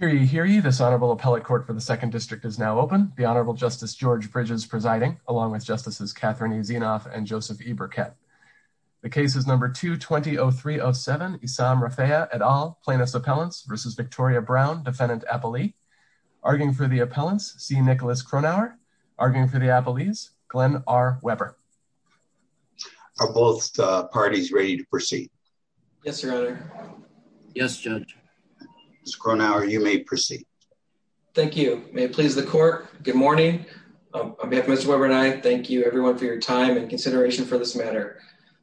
Raffaea et al. Plaintiffs' Appellants v. Victoria Brown, Defendant Appellee. Arguing for the Appellants, C. Nicholas Kronauer. Arguing for the Appellees, Glenn R. Weber. Are both parties ready to proceed? Yes, Your Honor. Yes, Judge. Mr. Kronauer, you may proceed. Thank you. May it please the Court. Good morning. On behalf of Mr. Weber and I, thank you everyone for your time and consideration for this matter.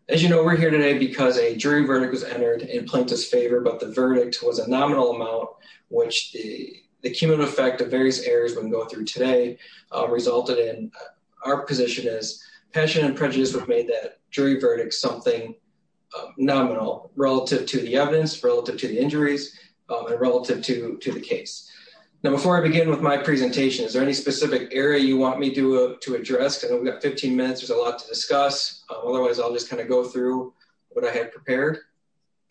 As you know, we're here today because a jury verdict was entered in plaintiff's favor, but the verdict was a nominal amount which the cumulative effect of various errors when going through today resulted in our position is passion and prejudice have made that jury verdict something nominal relative to the evidence, relative to the injuries, and relative to the case. Now before I begin with my presentation, is there any specific area you want me to address? We've got 15 minutes. There's a lot to discuss. Otherwise, I'll just kind of go through what I have prepared.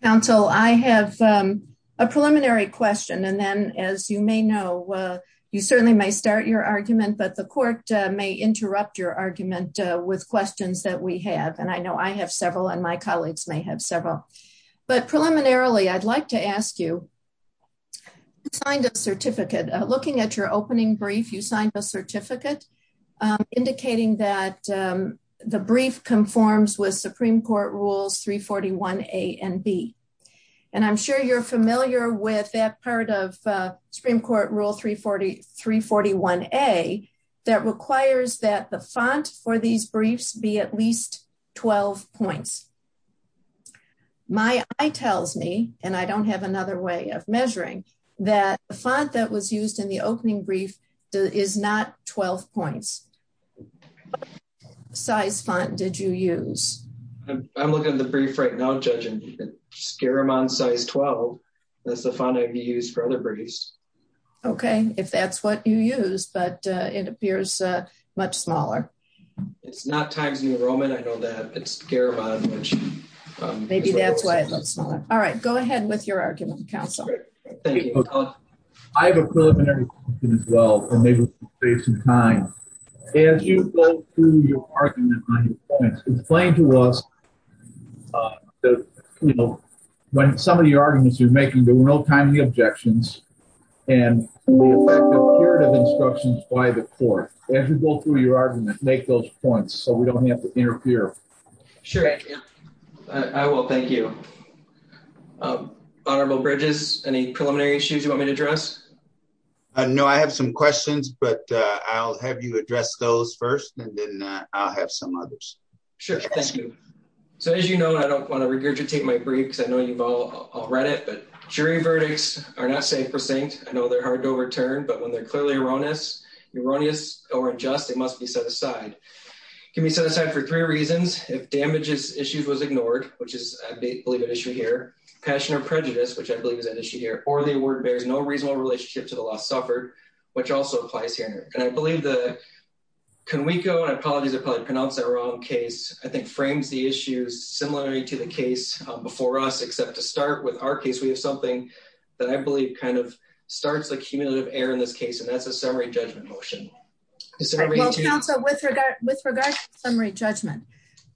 Counsel, I have a preliminary question and then as you may know, you certainly may start your argument, but the court may interrupt your argument with questions that we have. And I know I have several and my colleagues may have several. But preliminarily, I'd like to ask you, who signed a certificate? Looking at your opening brief, you signed a certificate indicating that the brief conforms with Supreme Court Rules 341 A and B. And I'm sure you're familiar with that part of Supreme Court Rule 341 A that requires that the font for these briefs be at least 12 points. My eye tells me, and I don't have another way of measuring, that the font that was used in the opening brief is not 12 points. What size font did you use? I'm looking at the brief right now, Judge, and you can scare them on size 12. That's the font I've used for other briefs. Okay, if that's what you use, but it appears much smaller. It's not Times New Roman. I know that it's Garamond. Maybe that's why it looks smaller. All right, go ahead with your argument, Counsel. I have a preliminary question as well, and maybe we should save some time. As some of your arguments you're making, there were no timely objections and the effect of curative instructions by the court. As you go through your argument, make those points so we don't have to interfere. Sure, I will. Thank you. Honorable Bridges, any preliminary issues you want me to address? No, I have some questions, but I'll have you address those first, and then I'll have some others. Sure, thank you. So as you know, I don't want to regurgitate my I'll read it, but jury verdicts are not safe for Saint. I know they're hard to return, but when they're clearly erroneous, erroneous or unjust, it must be set aside. Give me set aside for three reasons. If damages issues was ignored, which is, I believe, an issue here, passion or prejudice, which I believe is an issue here, or the word bears no reasonable relationship to the last suffered, which also applies here. And I believe the Can we go on? Apologies are probably pronounced the wrong case. I think frames the issues similarly to the case before us, except to start with our case. We have something that I believe kind of starts the cumulative air in this case, and that's a summary judgment motion. So with regard with regard summary judgment,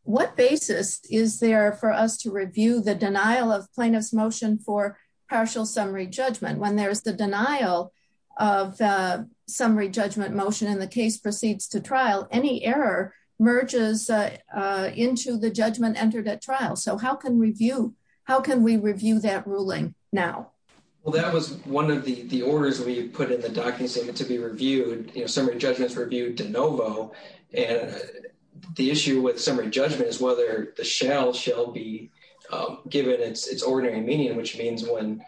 what basis is there for us to review the denial of plaintiff's motion for partial summary judgment? When there's the denial of summary judgment motion in the case proceeds to trial, any error merges into the judgment entered at trial. So how can review? How can we review that ruling now? Well, that was one of the orders we put in the documents to be reviewed. Summary judgments reviewed de novo. And the issue with summary judgment is whether the shell shall be given its ordinary meaning, which means when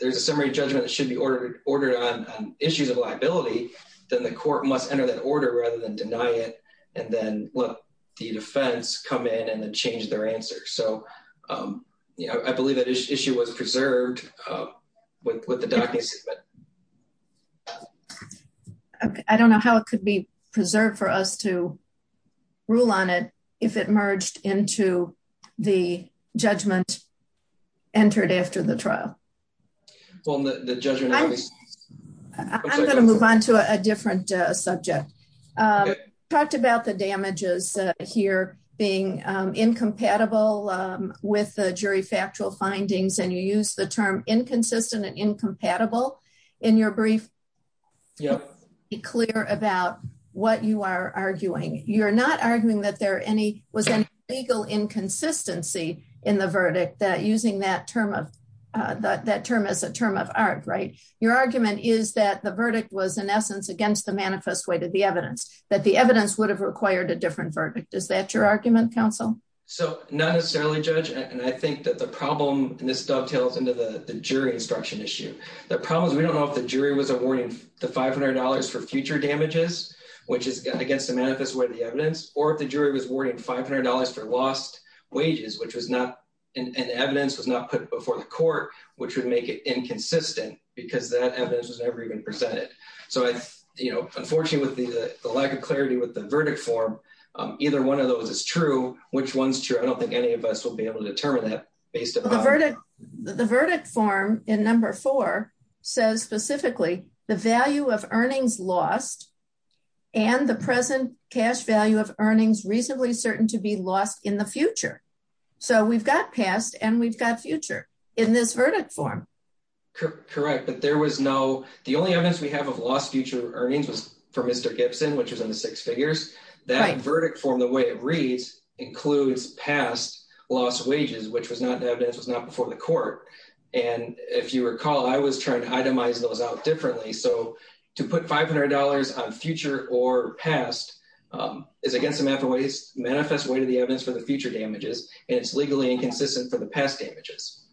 there's a summary judgment that should be ordered ordered on issues of liability, then the court must enter that order rather than deny it and then let the defense come in and change their answer. So, um, you know, I believe that issue was preserved, uh, with the documents, but I don't know how it could be preserved for us to rule on it if it merged into the judgment entered after the trial. Well, the judgment, I'm gonna move on to a different subject. Um, talked about the damages here being incompatible with the jury factual findings, and you use the term inconsistent and incompatible in your brief. Yeah, clear about what you are arguing. You're not arguing that there any was any legal inconsistency in the verdict that using that term of that term is a term of art, right? Your argument is that the essence against the manifest way to the evidence that the evidence would have required a different verdict. Is that your argument, counsel? So not necessarily judge. And I think that the problem in this dovetails into the jury instruction issue. The problem is, we don't know if the jury was awarding the $500 for future damages, which is against the manifest way of the evidence, or if the jury was warning $500 for lost wages, which was not an evidence was not put before the court, which would make it inconsistent because that evidence was never even presented. So I, you know, unfortunately, the lack of clarity with the verdict form either one of those is true. Which one's true? I don't think any of us will be able to determine that based on the verdict. The verdict form in number four says specifically the value of earnings lost and the present cash value of earnings reasonably certain to be lost in the future. So we've got past and we've got future in this right. But there was no. The only evidence we have of lost future earnings was for Mr Gibson, which was in the six figures that verdict form. The way it reads includes past lost wages, which was not evidence was not before the court. And if you recall, I was trying to itemize those out differently. So to put $500 on future or past, um, is against the math always manifest way to the evidence for the future damages, and it's legally inconsistent for the past images.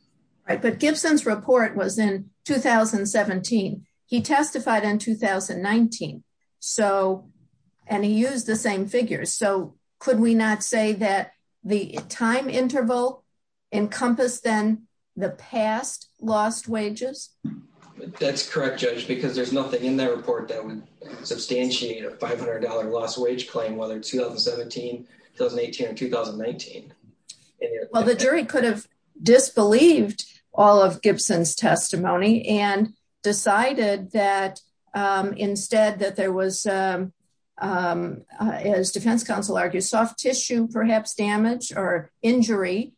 But Gibson's report was in 2017. He testified in 2019. So and he used the same figures. So could we not say that the time interval encompassed then the past lost wages? That's correct, Judge, because there's nothing in that report that would substantiate a $500 lost wage claim, whether 2017, 2018 and 2019. Well, the jury could have disbelieved all of Gibson's testimony and decided that, um, instead that there was, um, um, as defense counsel argues, soft tissue, perhaps damage or injury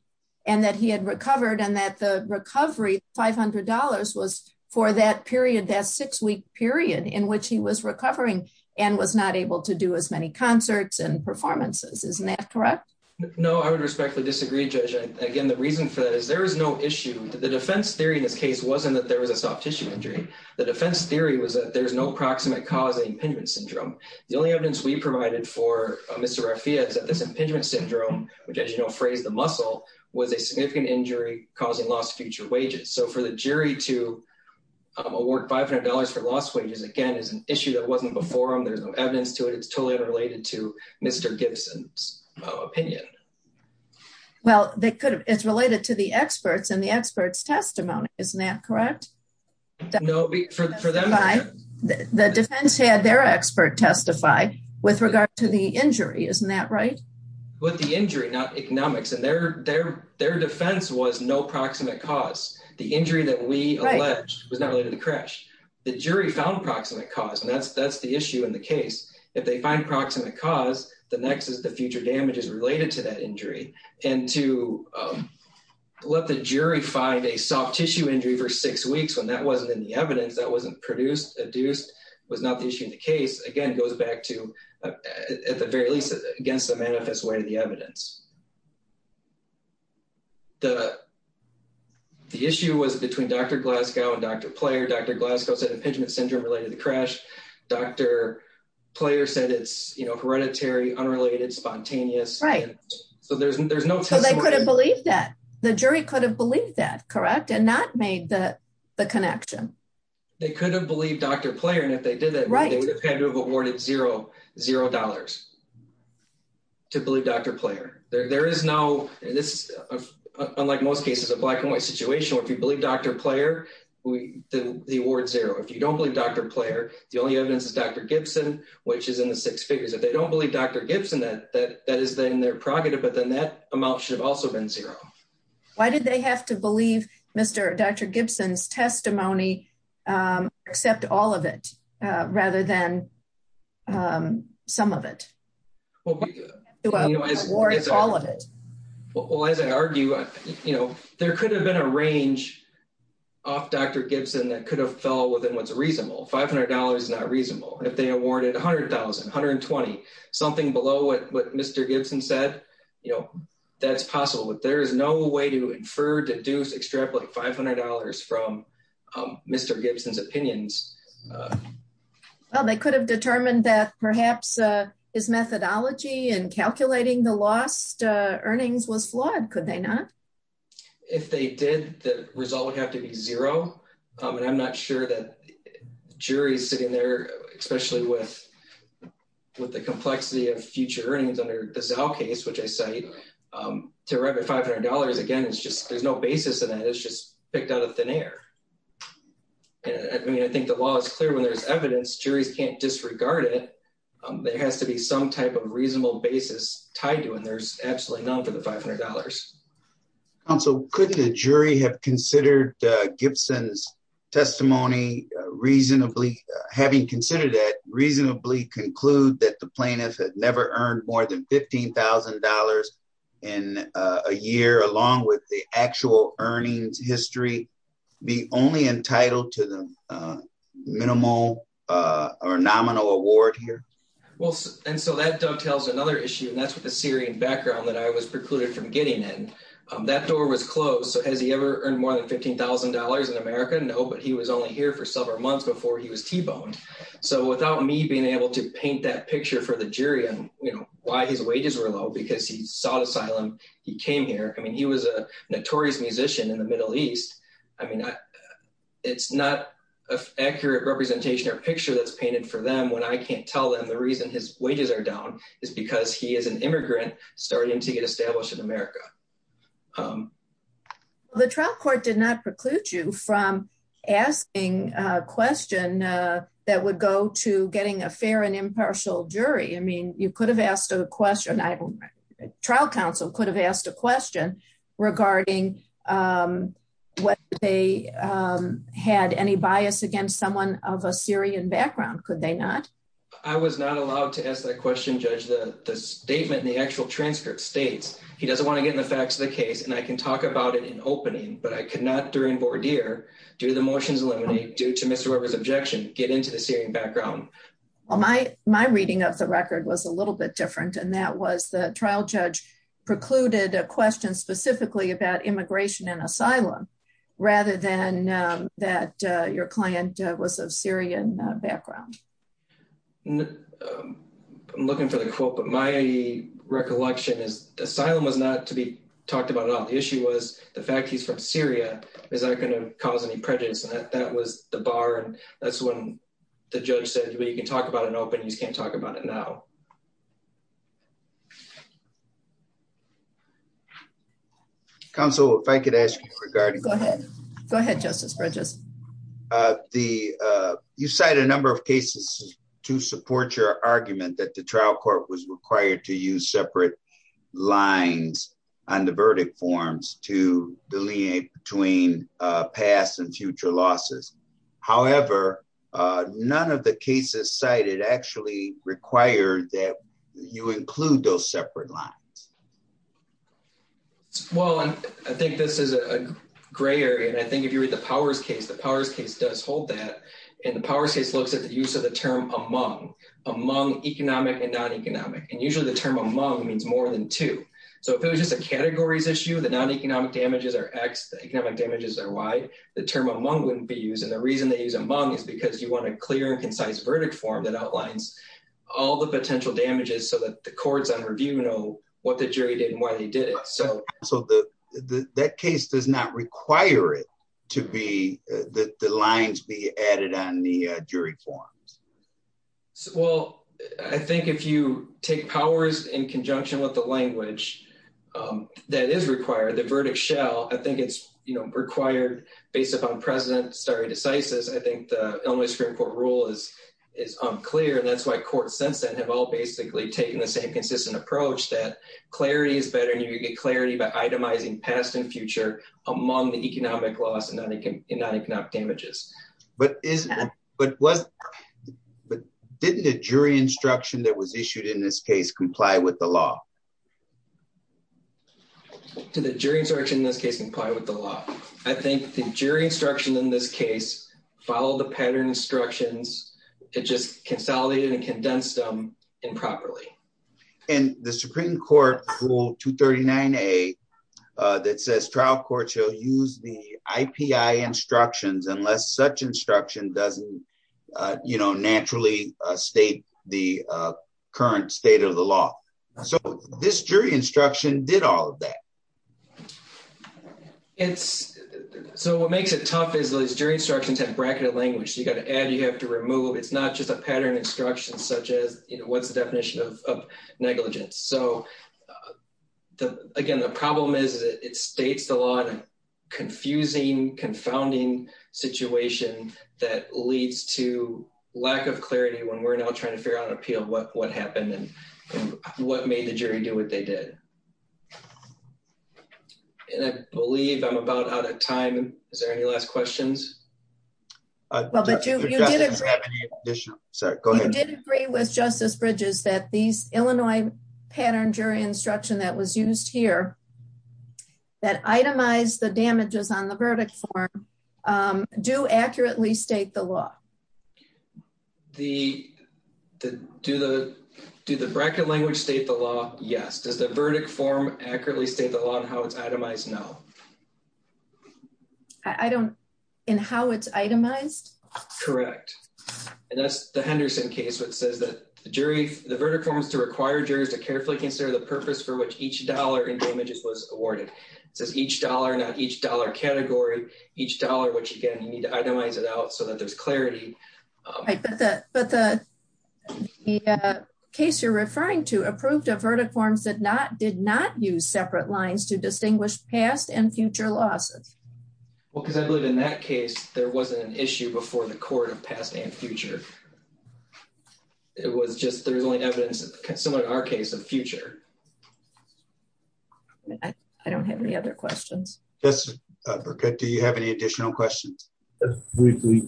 and that he had recovered and that the recovery $500 was for that period, that six week period in which he was recovering and was not able to do as many concerts and performances. Isn't that correct? No, I would respectfully disagree, Judge. Again, the reason for that is there is no issue. The defense theory in this case wasn't that there was a soft tissue injury. The defense theory was that there's no proximate cause impingement syndrome. The only evidence we provided for Mr Rafi is that this impingement syndrome, which, as you know, phrase the muscle was a significant injury causing lost future wages. So for the jury to award $500 for lost wages again is an issue that wasn't before him. There's evidence to it. It's totally unrelated to Mr Gibson's opinion. Well, they could have. It's related to the experts and the experts testimony. Isn't that correct? No, for them. The defense had their expert testify with regard to the injury. Isn't that right? With the injury, not economics and their their their defense was no proximate cause. The injury that we alleged was not related to crash. The jury found proximate cause, and that's the issue in the case. If they find proximate cause, the next is the future damages related to that injury. And to let the jury find a soft tissue injury for six weeks when that wasn't in the evidence that wasn't produced, adduced, was not the issue in the case, again, goes back to, at the very least, against the manifest way of the evidence. The issue was between Dr Glasgow and Dr Player. Dr Glasgow said impingement syndrome related to crash. Dr Player said it's, you know, hereditary, unrelated, spontaneous, right? So there's there's no. So they couldn't believe that the jury could have believed that correct and not made the connection. They couldn't believe Dr Player. And if they did that right, they would have had to have awarded 00 dollars to believe Dr Player. There is no this, unlike most cases of black and white situation where if you believe Dr Player, the award zero. If you don't believe Dr Player, the only evidence is Dr Gibson, which is in the six figures. If they don't believe Dr Gibson, that that that is then their prerogative. But then that amount should have also been zero. Why did they have to believe Mr Dr Gibson's testimony? Um, except all of it rather than, um, some of it. Well, you know, it's all of it. Well, as I argue, you know, there could have been a range off Dr Gibson that could have fell within what's reasonable. $500 is not reasonable. If they awarded $100,120 something below what Mr Gibson said, you know, that's possible. But there is no way to infer deduce extrapolate $500 from Mr Gibson's opinions. Well, they could have determined that perhaps his methodology and calculating the lost earnings was flawed. Could they not? If they did, the result would have to be zero. And I'm not sure that jury's sitting there, especially with with the complexity of future earnings under the cell case, which I say, um, to arrive at $500 again, it's just there's no basis in that. It's just picked out of thin air. I mean, I think the law is clear. When there's evidence, juries can't disregard it. Um, there has to be some type of reasonable basis tied to when there's actually known for the $500. And so couldn't a jury have considered Gibson's testimony reasonably having considered that reasonably conclude that the plaintiff had never earned more than $15,000 in a year, along with the actual earnings history, be only entitled to the, uh, minimal, uh, or nominal award here. Well, and so that dovetails another issue and that's what the Syrian background that I was precluded from getting in, um, that door was closed. So has he ever earned more than $15,000 in America? No, but he was only here for several months before he was T-boned. So without me being able to paint that picture for the jury on why his wages were low, because he sought asylum, he came here. I mean, he was a notorious musician in the Middle East. I mean, it's not an accurate representation or picture that's painted for them when I can't tell them the reason his wages are down is because he is an immigrant starting to get established in America. Um, well, the trial court did not preclude you from asking a question, uh, that would go to getting a fair and impartial jury. I mean, you could have asked a question. I don't know. Trial counsel could have asked a question regarding, um, what they, um, had any bias against someone of a Syrian background. Could they not? I was not allowed to ask that question. Judge the statement in the actual transcript states, he doesn't want to get in the facts of the case and I can talk about it in opening, but I could not during board here, do the motions eliminate due to Mr. Weber's objection, get into the Syrian background. Well, my, my reading of the record was a little bit different. And that was the trial judge precluded a question specifically about immigration and asylum rather than, um, that, uh, your client, uh, was of Syrian background. No, um, I'm looking for the quote, but my recollection is asylum was not to be talked about at all. The issue was the fact he's from Syria is not going to cause any prejudice. And that was the bar. And that's when the judge said, well, you can talk about an open, you just can't talk about it now. Counsel, if I could ask you regarding, go ahead, go ahead. Justice Bridges. Uh, the, uh, you cite a number of cases to support your argument that the trial court was required to use separate lines on the verdict forms to delineate between, uh, past and future losses. However, uh, none of the cases cited actually required that you include those separate lines. Well, I think this is a gray area. And I think if you read the powers case, the powers case does hold that. And the powers case looks at the use of the term among, among economic and non-economic. And usually the term among means more than two. So if it was just a categories issue, the non-economic damages are X, the economic damages are Y, the term among wouldn't be used. And the reason they use among is because you want a clear and concise verdict form that outlines all the potential damages so that the courts on review know what the jury did and why they did it. So, so the, the, that case does not require it to be, uh, the, the lines be added on the, uh, jury forms. So, well, I think if you take powers in conjunction with the language, um, that is required, the verdict shell, I think it's required based upon president stare decisis. I think the only Supreme court rule is, is unclear. And that's why courts sense that have all basically taken the same consistent approach that clarity is better. And you get clarity by itemizing past and future among the economic loss and non-economic and non-economic damages, but isn't, but wasn't, but didn't a jury instruction that was issued in this case, comply with the law. To the jury instruction in this case, comply with the law. I think the jury instruction in this case, follow the pattern instructions to just consolidate and condense them improperly. And the Supreme court rule two 39, a, uh, that says trial court, she'll use the IPI instructions unless such instruction doesn't, uh, you know, naturally, uh, state the, uh, current state of the law. So this jury instruction did all of that. It's so what makes it tough is those jury instructions have bracketed language. You've got to add, you have to remove. It's not just a pattern instruction such as, you know, what's the definition of negligence. So, uh, the, again, the problem is that it states the law. Confusing confounding situation that leads to lack of clarity when we're now trying to figure out an appeal, what, what happened and what made the jury do what they did. And I believe I'm about out of time. Is there any last questions? Sorry. Go ahead. Did agree with justice bridges that these Illinois pattern jury instruction that was used here that itemize the damages on the verdict form, um, do accurately state the law. The, the, do the, do the bracket language state the law? Yes. Does the verdict form accurately state the law and how it's itemized? No, I don't. And how it's itemized. Correct. And that's the Henderson case. What says that the jury, the verdict forms to require jurors to carefully consider the purpose for which each dollar in damages was awarded. It says each dollar, not each dollar category, each dollar, which again, you need to it out so that there's clarity, but the case you're referring to approved a verdict forms that not did not use separate lines to distinguish past and future losses. Well, cause I believe in that case, there wasn't an issue before the court of past and future. It was just, there's only evidence that similar to our case of future. I don't have any other questions. Yes. Okay. Do you have any additional questions? Briefly?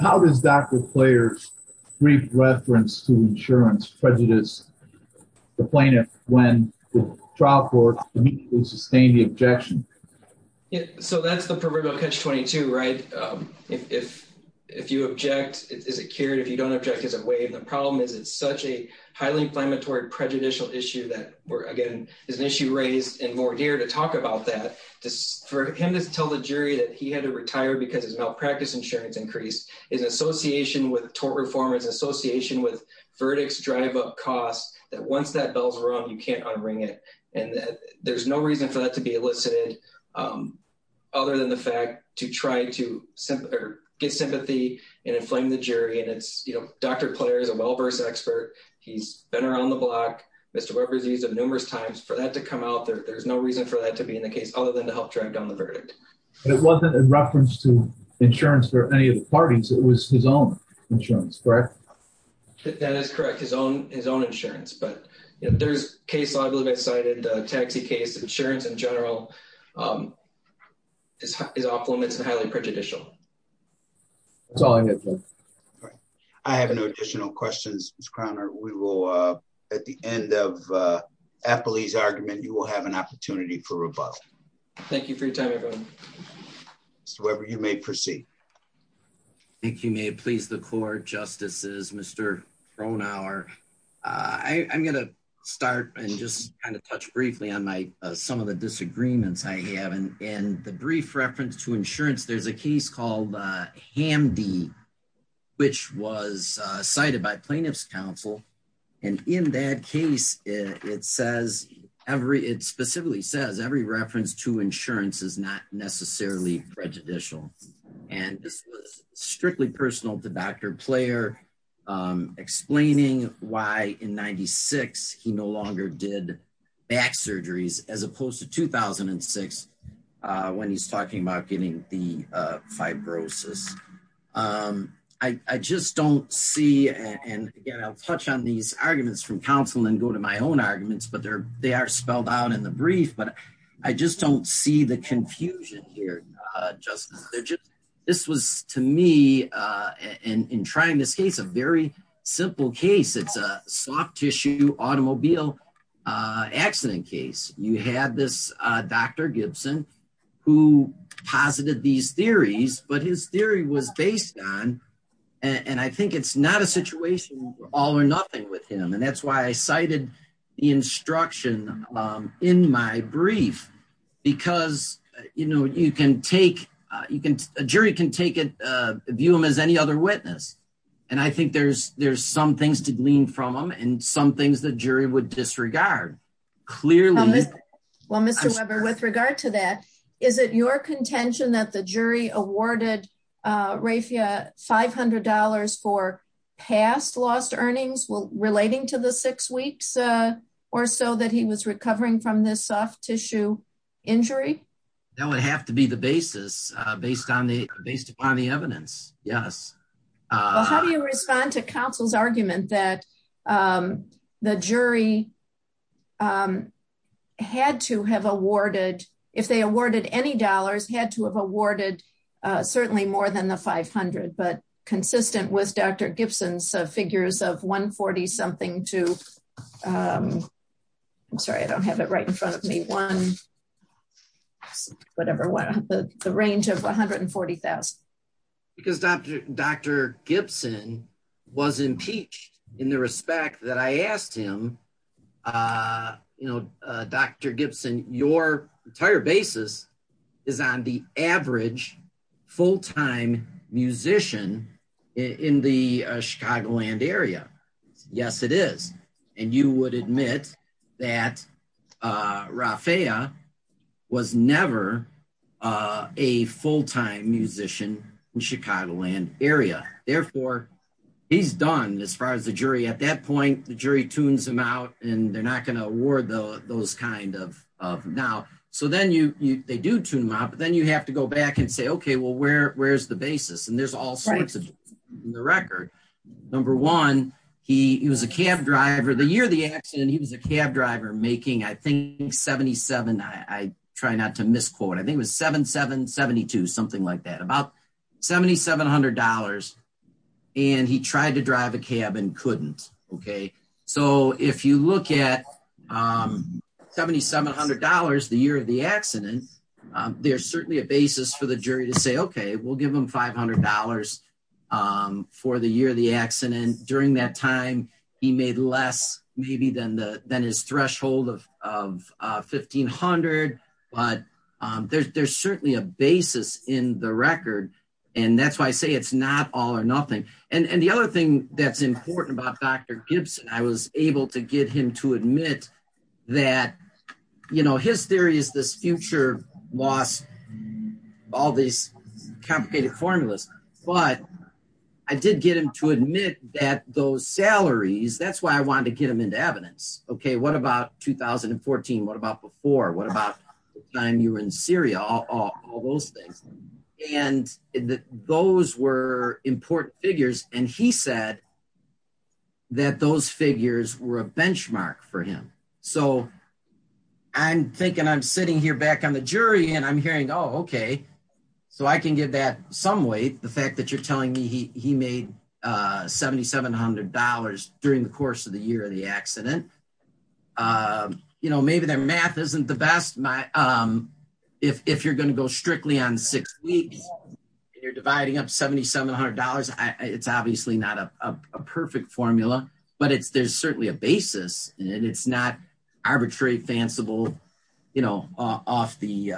How does Dr. players brief reference to insurance prejudice the plaintiff when the trial court sustained the objection? Yeah. So that's the proverbial catch 22, right? Um, if, if you object, is it cured? If you don't object, is it waived? The problem is it's such a highly inflammatory prejudicial issue that we're again, is an issue raised in more gear to talk about that. Just for him to tell the jury that he had to retire because his malpractice insurance increased his association with tort reformers association with verdicts, drive up costs that once that bells were on, you can't unring it. And there's no reason for that to be elicited. Um, other than the fact to try to get sympathy and inflame the jury. And it's, you know, Dr. Player is a well-versed expert. He's been around the block. Mr. Webber's used of numerous times for that to come out there. There's no reason for that to be in the case other than to help drag down the verdict. It wasn't a reference to insurance for any of the parties. It was his own insurance, correct? That is correct. His own, his own insurance. But there's case. I believe I cited a taxi case insurance in general. Um, is his off limits and highly prejudicial. It's all I get. I have no additional questions. Mr. Croner, we will, uh, at the end of a police argument, you will have an opportunity for rebuttal. Thank you for your time, everyone. Whoever you may proceed. Thank you. May it please? The court justices. Mr Brunauer, I'm gonna start and just kind of touch briefly on my some of the disagreements I have in the brief reference to insurance. There's a case called Hamdi, which was cited by plaintiff's counsel. And in that case, it says every it specifically says every reference to insurance is not necessarily prejudicial. And strictly personal to Dr Player, um, explaining why in 96 he no longer did back talking about getting the fibrosis. Um, I just don't see. And again, I'll touch on these arguments from counsel and go to my own arguments. But there they are spelled out in the brief. But I just don't see the confusion here. Uh, just this was to me, uh, in trying this case, a very simple case. It's a soft tissue automobile accident case. You had this Dr Gibson who posited these theories, but his theory was based on and I think it's not a situation all or nothing with him. And that's why I cited the instruction in my brief. Because, you know, you can take you can. A jury can take it view him as any other witness. And I think there's there's some things to glean from him and some things that jury would disregard clearly. Well, Mr Webber, with regard to that, is it your contention that the jury awarded, uh, rafia $500 for past lost earnings relating to the six weeks or so that he was recovering from this soft tissue injury? That would have to be the basis based on the based upon the evidence. Yes. Uh, how do you respond to counsel's argument that, um, the jury, um, had to have awarded if they awarded any dollars had to have awarded, uh, certainly more than the 500. But consistent with Dr Gibson's figures of 1 40 something to, um, I'm sorry. I don't have it right in front of me. One, whatever. What? The range of 140,000 because Dr Dr Gibson was impeached in the respect that I asked him. Uh, you know, Dr Gibson, your entire basis is on the average full time musician in the Chicagoland area. Yes, it is. And you would admit that, uh, rafia was never, uh, a full time musician in Chicagoland area. Therefore, he's done as far as the jury. At that point, the jury tunes him out, and they're not gonna award those kind of now. So then you they do tune him up. Then you have to go back and say, Okay, well, where where's the basis? And there's all sorts of the record. Number one, he was a cab driver the year of the accident. He was a cab driver making, I think, 77. I try not to misquote. I think it was 7772 something like that. About $7700. And he tried to drive a cab and couldn't. Okay, so if you look at, um, $7700 the year of the accident, there's certainly a basis for the jury to say, Okay, we'll the year of the accident. During that time, he made less maybe than the than his threshold of of 1500. But there's certainly a basis in the record. And that's why I say it's not all or nothing. And the other thing that's important about Dr Gibson, I was able to get him to admit that, you know, his theory is this future loss, all these complicated formulas, but I did get him to admit that those salaries, that's why I wanted to get them into evidence. Okay, what about 2014? What about before? What about time you were in Syria, all those things. And those were important figures. And he said that those figures were a I'm sitting here back on the jury. And I'm hearing Oh, okay. So I can give that some weight the fact that you're telling me he made $7700 during the course of the year of the accident. You know, maybe their math isn't the best. My, um, if you're going to go strictly on six weeks, you're dividing up $7700. It's obviously not a perfect formula. But it's there's certainly a basis. And it's not arbitrary, fanciful, you know, off the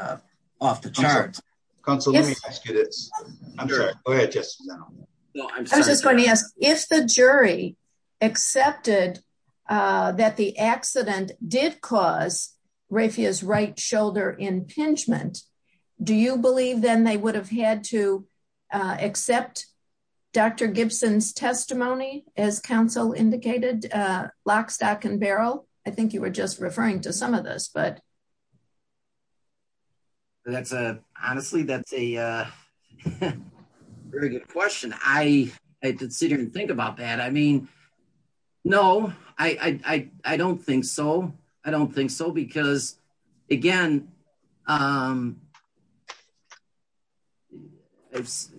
off the charts. Council. Let me ask you this. Go ahead. Just no, I'm just going to ask if the jury accepted that the accident did cause rafias right shoulder impingement. Do you believe then they would have had to accept Dr Gibson's testimony as council indicated? lock, stack and barrel? I think you were just referring to some of this, but that's a honestly, that's a very good question. I consider and think about that. I mean, no, I don't think so. I don't think so. Because, again, um, it's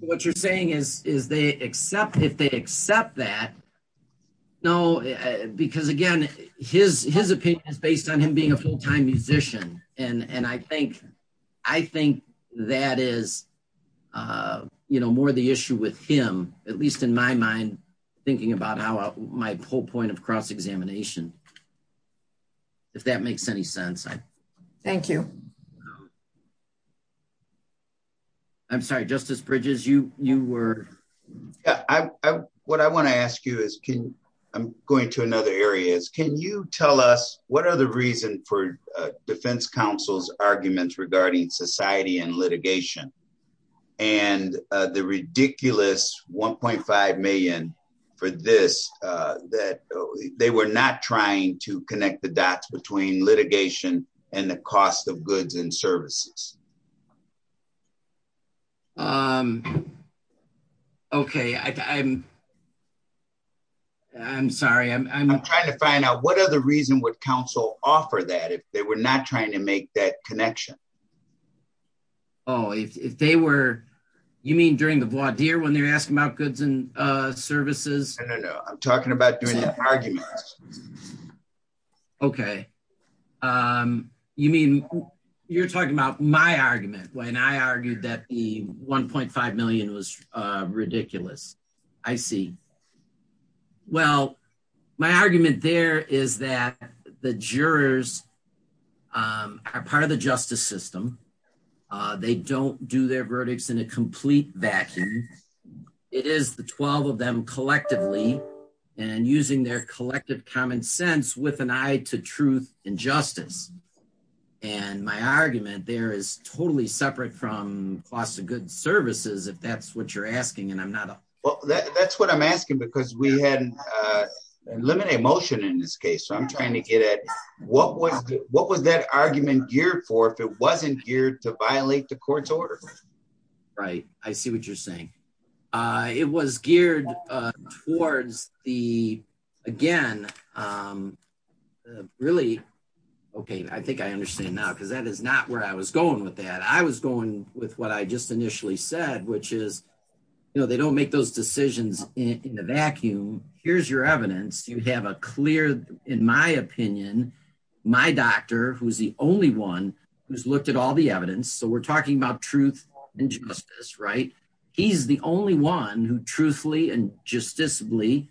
what you're saying is, is they accept if they accept that? No, because again, his his opinion is based on him being a full time musician. And and I think, I think that is, you know, more the issue with him, at least in my mind, thinking about how my whole point of cross examination. If that makes any sense. Thank you. I'm sorry, Justice Bridges, you you were I what I want to ask you is, can I'm going to another areas? Can you tell us what are the reason for defense council's arguments regarding society and litigation? And the ridiculous 1.5 million for this, that they were not trying to connect the dots between litigation and the cost of goods and services. Okay, I'm I'm sorry, I'm trying to find out what other reason would counsel offer that if they were not trying to make that connection? Oh, if they were, you mean, during the blood here when they're asking about goods and services? No, I'm talking about doing an argument. Okay. You mean, you're talking about my argument when I argued that the 1.5 million was ridiculous? I see. Well, my argument there is that the jurors are part of the justice system. They don't do their verdicts in a complete vacuum. It is the 12 of them collectively and using their collective common sense with an eye to truth and justice. And my argument there is totally separate from cost of good services. If that's what you're asking, and I'm not well, that's what I'm asking. Because we hadn't, uh, eliminate motion in this case. So I'm trying to get at what was what was that argument geared for if it wasn't geared to violate the court's order? Right? I see what you're saying. Uh, it was geared towards the again. Um, really? Okay. I think I understand now because that is not where I was going with that. I was going with what I just initially said, which is, you know, they don't make those decisions in the vacuum. Here's your evidence. You have a clear, in my opinion, my doctor, who is the only one who's looked at all the evidence. So we're talking about truth and justice, right? He's the only one who truthfully and justiciably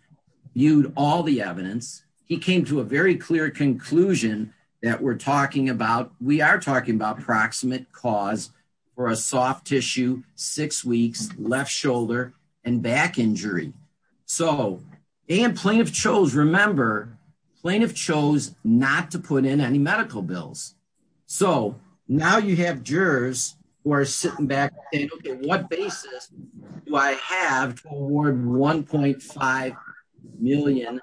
viewed all the evidence. He came to a very clear conclusion that we're talking about. We are talking about proximate cause for a soft tissue, six weeks left shoulder and back injury. So and plaintiff chose. Remember, plaintiff chose not to put in any medical bills. So now you have jurors who are sitting back and what basis do I have toward $1.5 million?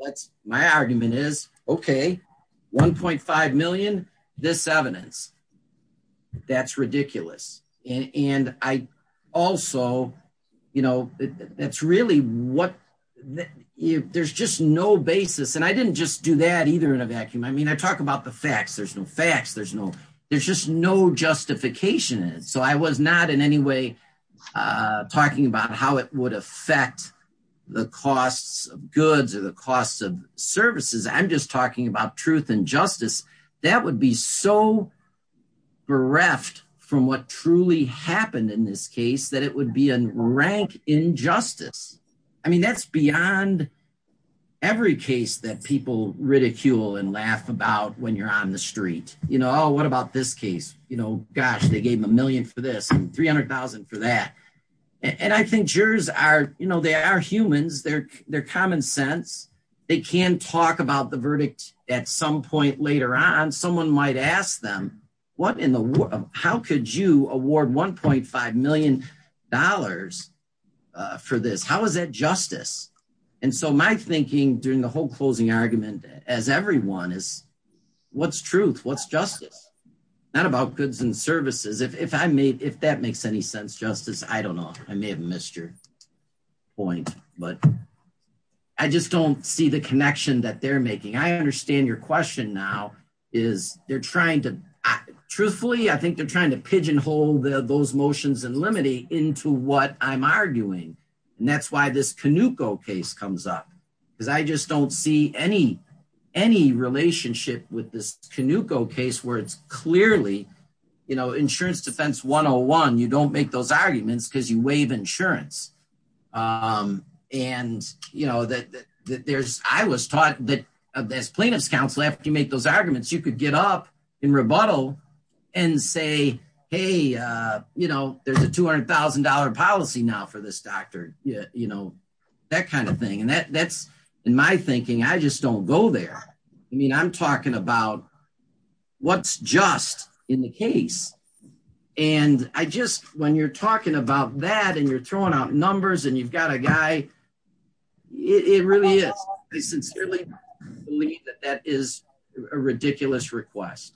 That's my argument is okay. 1.5 million. This evidence that's ridiculous. And I also, you know, that's really what there's just no basis. And I didn't just do that either in a vacuum. I mean, I talk about the facts. There's no facts. There's no, there's just no justification. So I was not in any way talking about how it would affect the costs of goods or the costs of services. I'm just talking about truth and justice. That would be so bereft from what truly happened in this case that it would be a rank injustice. I mean, that's beyond every case that people ridicule and laugh about when you're on the street, you know, Oh, what about this case? You know, gosh, they gave him a million for this and 300,000 for that. And I think jurors are, you know, they are humans. They're, they're common sense. They can talk about the verdict at some point later on, someone might ask them what in the world, how could you award $1.5 million for this? How is that justice? And so my thinking during the whole closing argument as everyone is what's truth, what's justice, not about goods and services. If, if I made, if that makes any sense, justice, I don't know, I may have missed your point, but I just don't see the connection that they're making. I understand your question now is they're trying to truthfully, I think they're trying to pigeonhole the, those motions and limiting into what I'm arguing. And that's why this Canuco case comes up because I just don't see any, any relationship with this Canuco case where it's clearly, you know, insurance defense 101, you don't make those arguments because you waive insurance. And you know, that there's, I was taught that as plaintiff's counsel, after you make those arguments, you could get up in rebuttal and say, Hey, you know, there's a $200,000 policy now for this doctor, you know, that kind of thing. And that that's in my thinking, I just don't go there. I mean, I'm talking about what's just in the case. And I just, when you're talking about that and you're throwing out numbers and you've got a guy, it really is. I sincerely believe that that is a ridiculous request.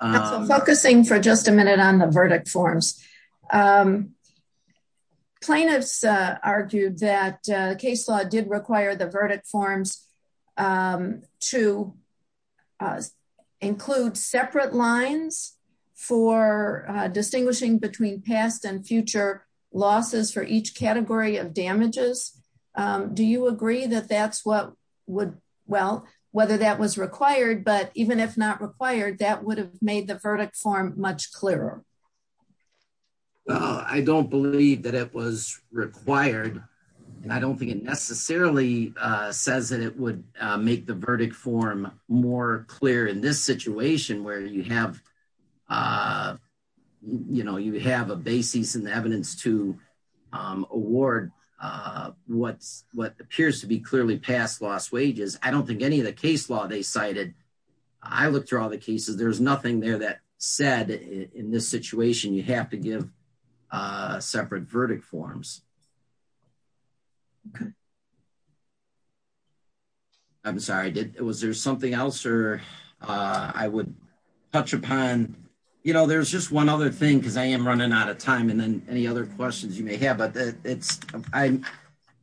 Focusing for just a minute on the verdict forms. Um, plaintiffs argued that case law did require the verdict forms, um, to include separate lines for distinguishing between past and future losses for each category of damages. Do you agree that that's what would well, whether that was required, but even if not required, that would have made the verdict form much clearer. Well, I don't believe that it was required and I don't think it necessarily, uh, says that it would, uh, make the verdict form more clear in this situation where you have, uh, you know, you have a basis in the evidence to, um, award, uh, what's what appears to be clearly past loss wages. I don't think any of the case law they cited. I looked through all the cases. There's this situation you have to give a separate verdict forms. Okay. I'm sorry. I did. Was there something else or, uh, I would touch upon, you know, there's just one other thing cause I am running out of time and then any other questions you may have, but it's, I'm,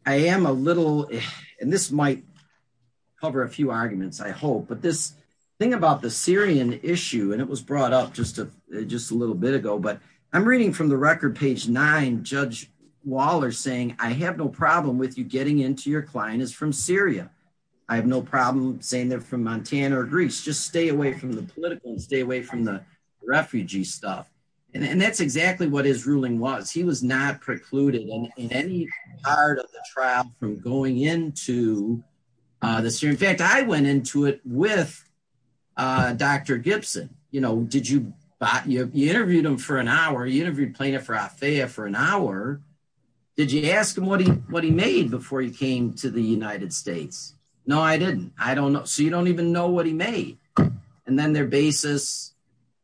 I am a little, and this might cover a few arguments, I hope, but this thing about the Syrian issue, and it was a little bit ago, but I'm reading from the record page nine, judge Waller saying, I have no problem with you. Getting into your client is from Syria. I have no problem saying they're from Montana or Greece. Just stay away from the political and stay away from the refugee stuff. And that's exactly what his ruling was. He was not precluded in any part of the trial from going into, uh, this year. In fact, I went into it with, uh, Dr. You know, did you, you interviewed him for an hour? You interviewed plaintiff for an hour. Did you ask him what he, what he made before he came to the United States? No, I didn't. I don't know. So you don't even know what he made and then their basis,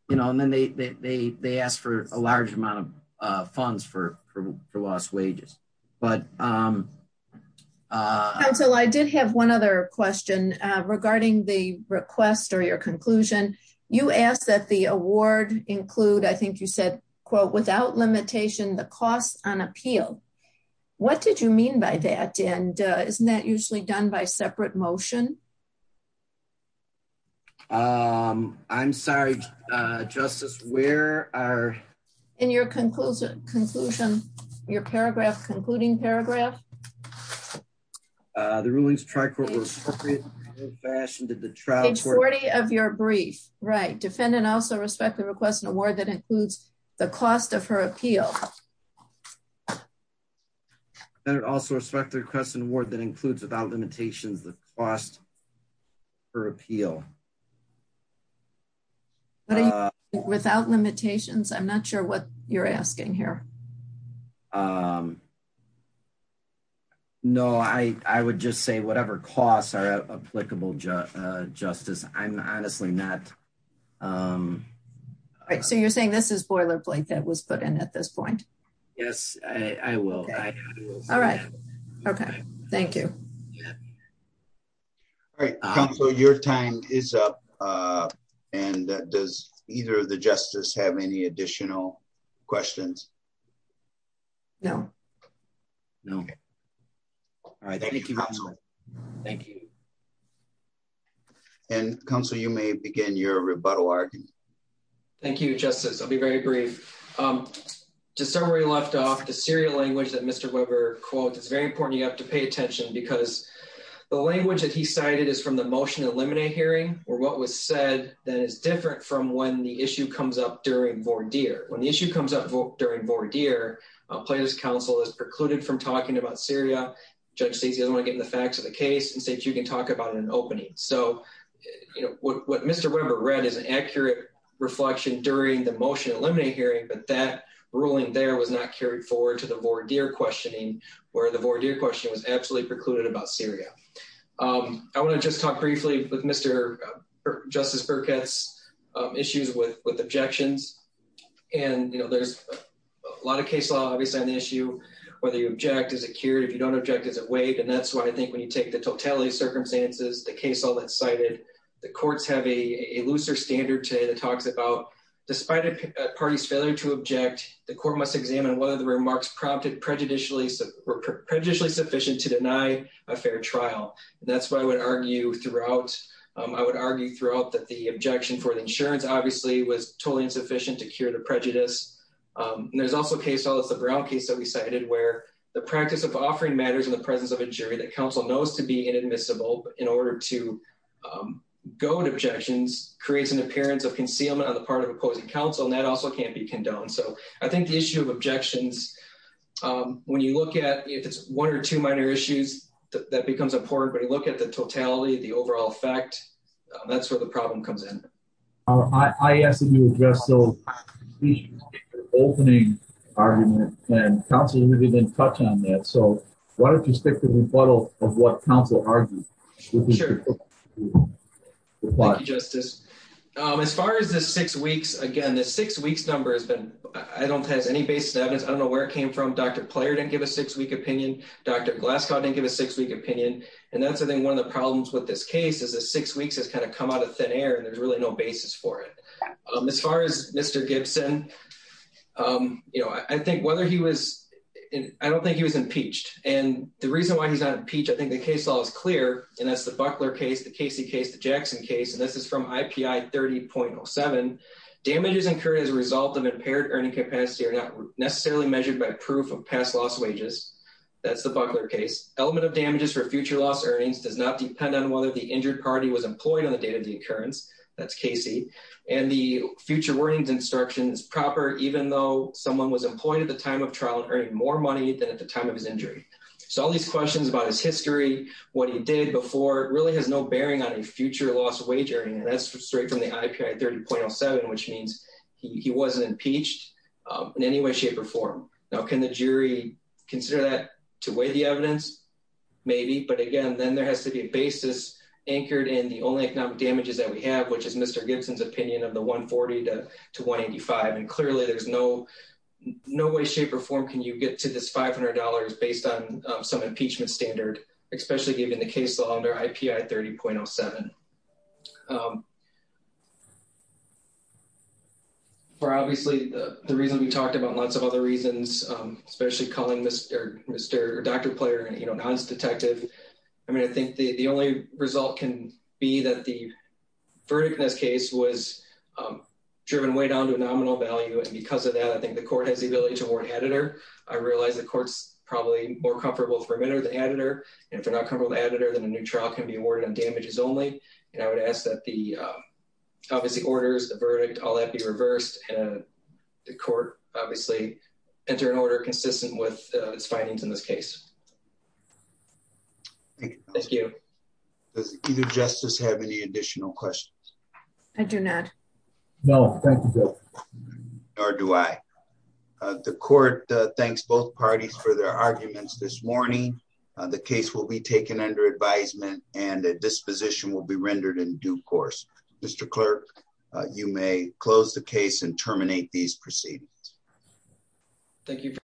you know, and then they, they, they, they asked for a large amount of, uh, funds for, for lost wages. But, um, uh, I did have one other question, uh, regarding the request or your conclusion, you asked that the award include, I think you said, quote, without limitation, the costs on appeal. What did you mean by that? And, uh, isn't that usually done by separate motion? Um, I'm sorry, uh, justice, where are in your conclusion, conclusion, your paragraph concluding paragraph, uh, the rulings tri-court was fashioned at the trial of your brief, right? Defendant also respect the request and award that includes the cost of her appeal. And it also respect the request and award that includes without limitations, the cost for appeal. Without limitations. I'm not sure what you're asking here. Um, no, I, I would just say whatever costs are applicable, uh, justice, I'm honestly not, um, all right. So you're saying this is boilerplate that was put in at this point. Yes, I will. All right. Okay. Thank you. All right. So your time is up, uh, and that does either of the justice have any additional questions? No, no. All right. Thank you. And council, you may begin your rebuttal argument. Thank you, justice. I'll be very brief. Um, just somewhere you left off the serial language that Mr. Weber quote, it's very important. You have to pay attention because the language that he cited is from the motion to eliminate hearing or what was said that is different from when the issue comes up during voir dire. When the issue comes up during voir dire, uh, plaintiff's counsel is precluded from talking about Syria. Judge says he doesn't want to get in the facts of the case and say, if you can talk about it in an opening. So what Mr. Weber read is an accurate reflection during the motion to eliminate hearing. But that ruling there was not carried forward to the voir dire questioning where the voir dire question was absolutely precluded about Syria. Um, I want to just talk briefly with Mr. Justice Burkett's, um, issues with, with objections. And, you know, there's a lot of case law, obviously on the issue, whether you object, is it cured? If you don't object, is it weighed? And that's why I think when you take the totality of circumstances, the case, all that cited, the courts have a looser standard today that talks about despite a party's failure to object, the court must examine whether the remarks prompted prejudicially, prejudicially sufficient to deny a fair trial. And that's why I would argue throughout, um, I would argue throughout that the objection for the insurance obviously was totally insufficient to cure the prejudice. Um, and there's also a case, all this, the Brown case that we cited, where the practice of offering matters in the presence of a jury that council knows to be inadmissible in order to, um, go to objections, creates an appearance of concealment on the part of opposing council. And that also can't be condoned. So I think the issue of objections, um, when you look at if it's one or two minor issues that becomes a port, but you look at the totality of the overall effect, that's where the problem comes in. Uh, I asked him to address. So the opening argument and counseling, we didn't touch on that. So why don't you stick to the model of what counsel argued? Why justice? Um, as far as the six weeks, again, the six weeks number has been, I don't have any basis evidence. I don't know where it came from. Dr. Player didn't give a six week opinion. Dr. Glasgow didn't give a six week opinion. And that's the thing. One of the problems with this case is a six weeks has kind of come out of thin air and there's really no basis for it. Um, as far as Mr. Gibson, um, you know, I think whether he was in, I don't think he was impeached. And the reason why he's not impeached. I think the case law is clear and that's the buckler case, the Casey case, the Jackson case, and this is from IPI 30.07 damages incurred as a result of impaired earning capacity or not necessarily measured by proof of past loss wages. That's the buckler case element of damages for future loss earnings does not depend on whether the injured party was employed on the date of the occurrence. That's Casey. And the future warnings instructions proper, even though someone was employed at the time of trial and earning more money than at the time of his injury. So all these questions about his history, what he did before really has no bearing on a future loss of wage earning, and that's straight from the IPI 30.07, which means he wasn't impeached in any way, shape or form now can the jury. Consider that to weigh the evidence maybe. But again, then there has to be a basis anchored in the only economic damages that we have, which is Mr. Gibson's opinion of the one 42 to 185. And clearly there's no, no way, shape or form. Can you get to this $500 based on some impeachment standard, especially given the case law under IPI 30.07. Um, for obviously the reason we talked about lots of other reasons, um, especially calling Mr. Mr. Dr. Player, you know, non-detective. I mean, I think the, the only result can be that the verdict in this case was, um, driven way down to a nominal value. And because of that, I think the court has the ability to award editor. I realized the court's probably more comfortable for a minute or the editor. And if they're not comfortable with the editor, then a new trial can be awarded on damages only. And I would ask that the, uh, obviously orders the verdict, all that be reversed. Uh, the court obviously enter an order consistent with its findings in this case. Thank you. Does either justice have any additional questions? I do not know. Or do I, uh, the court, uh, thanks both parties for their arguments this morning. Uh, the case will be taken under advisement and that disposition will be rendered in due course. Mr. Clerk, uh, you may close the case and terminate these proceedings. Thank you.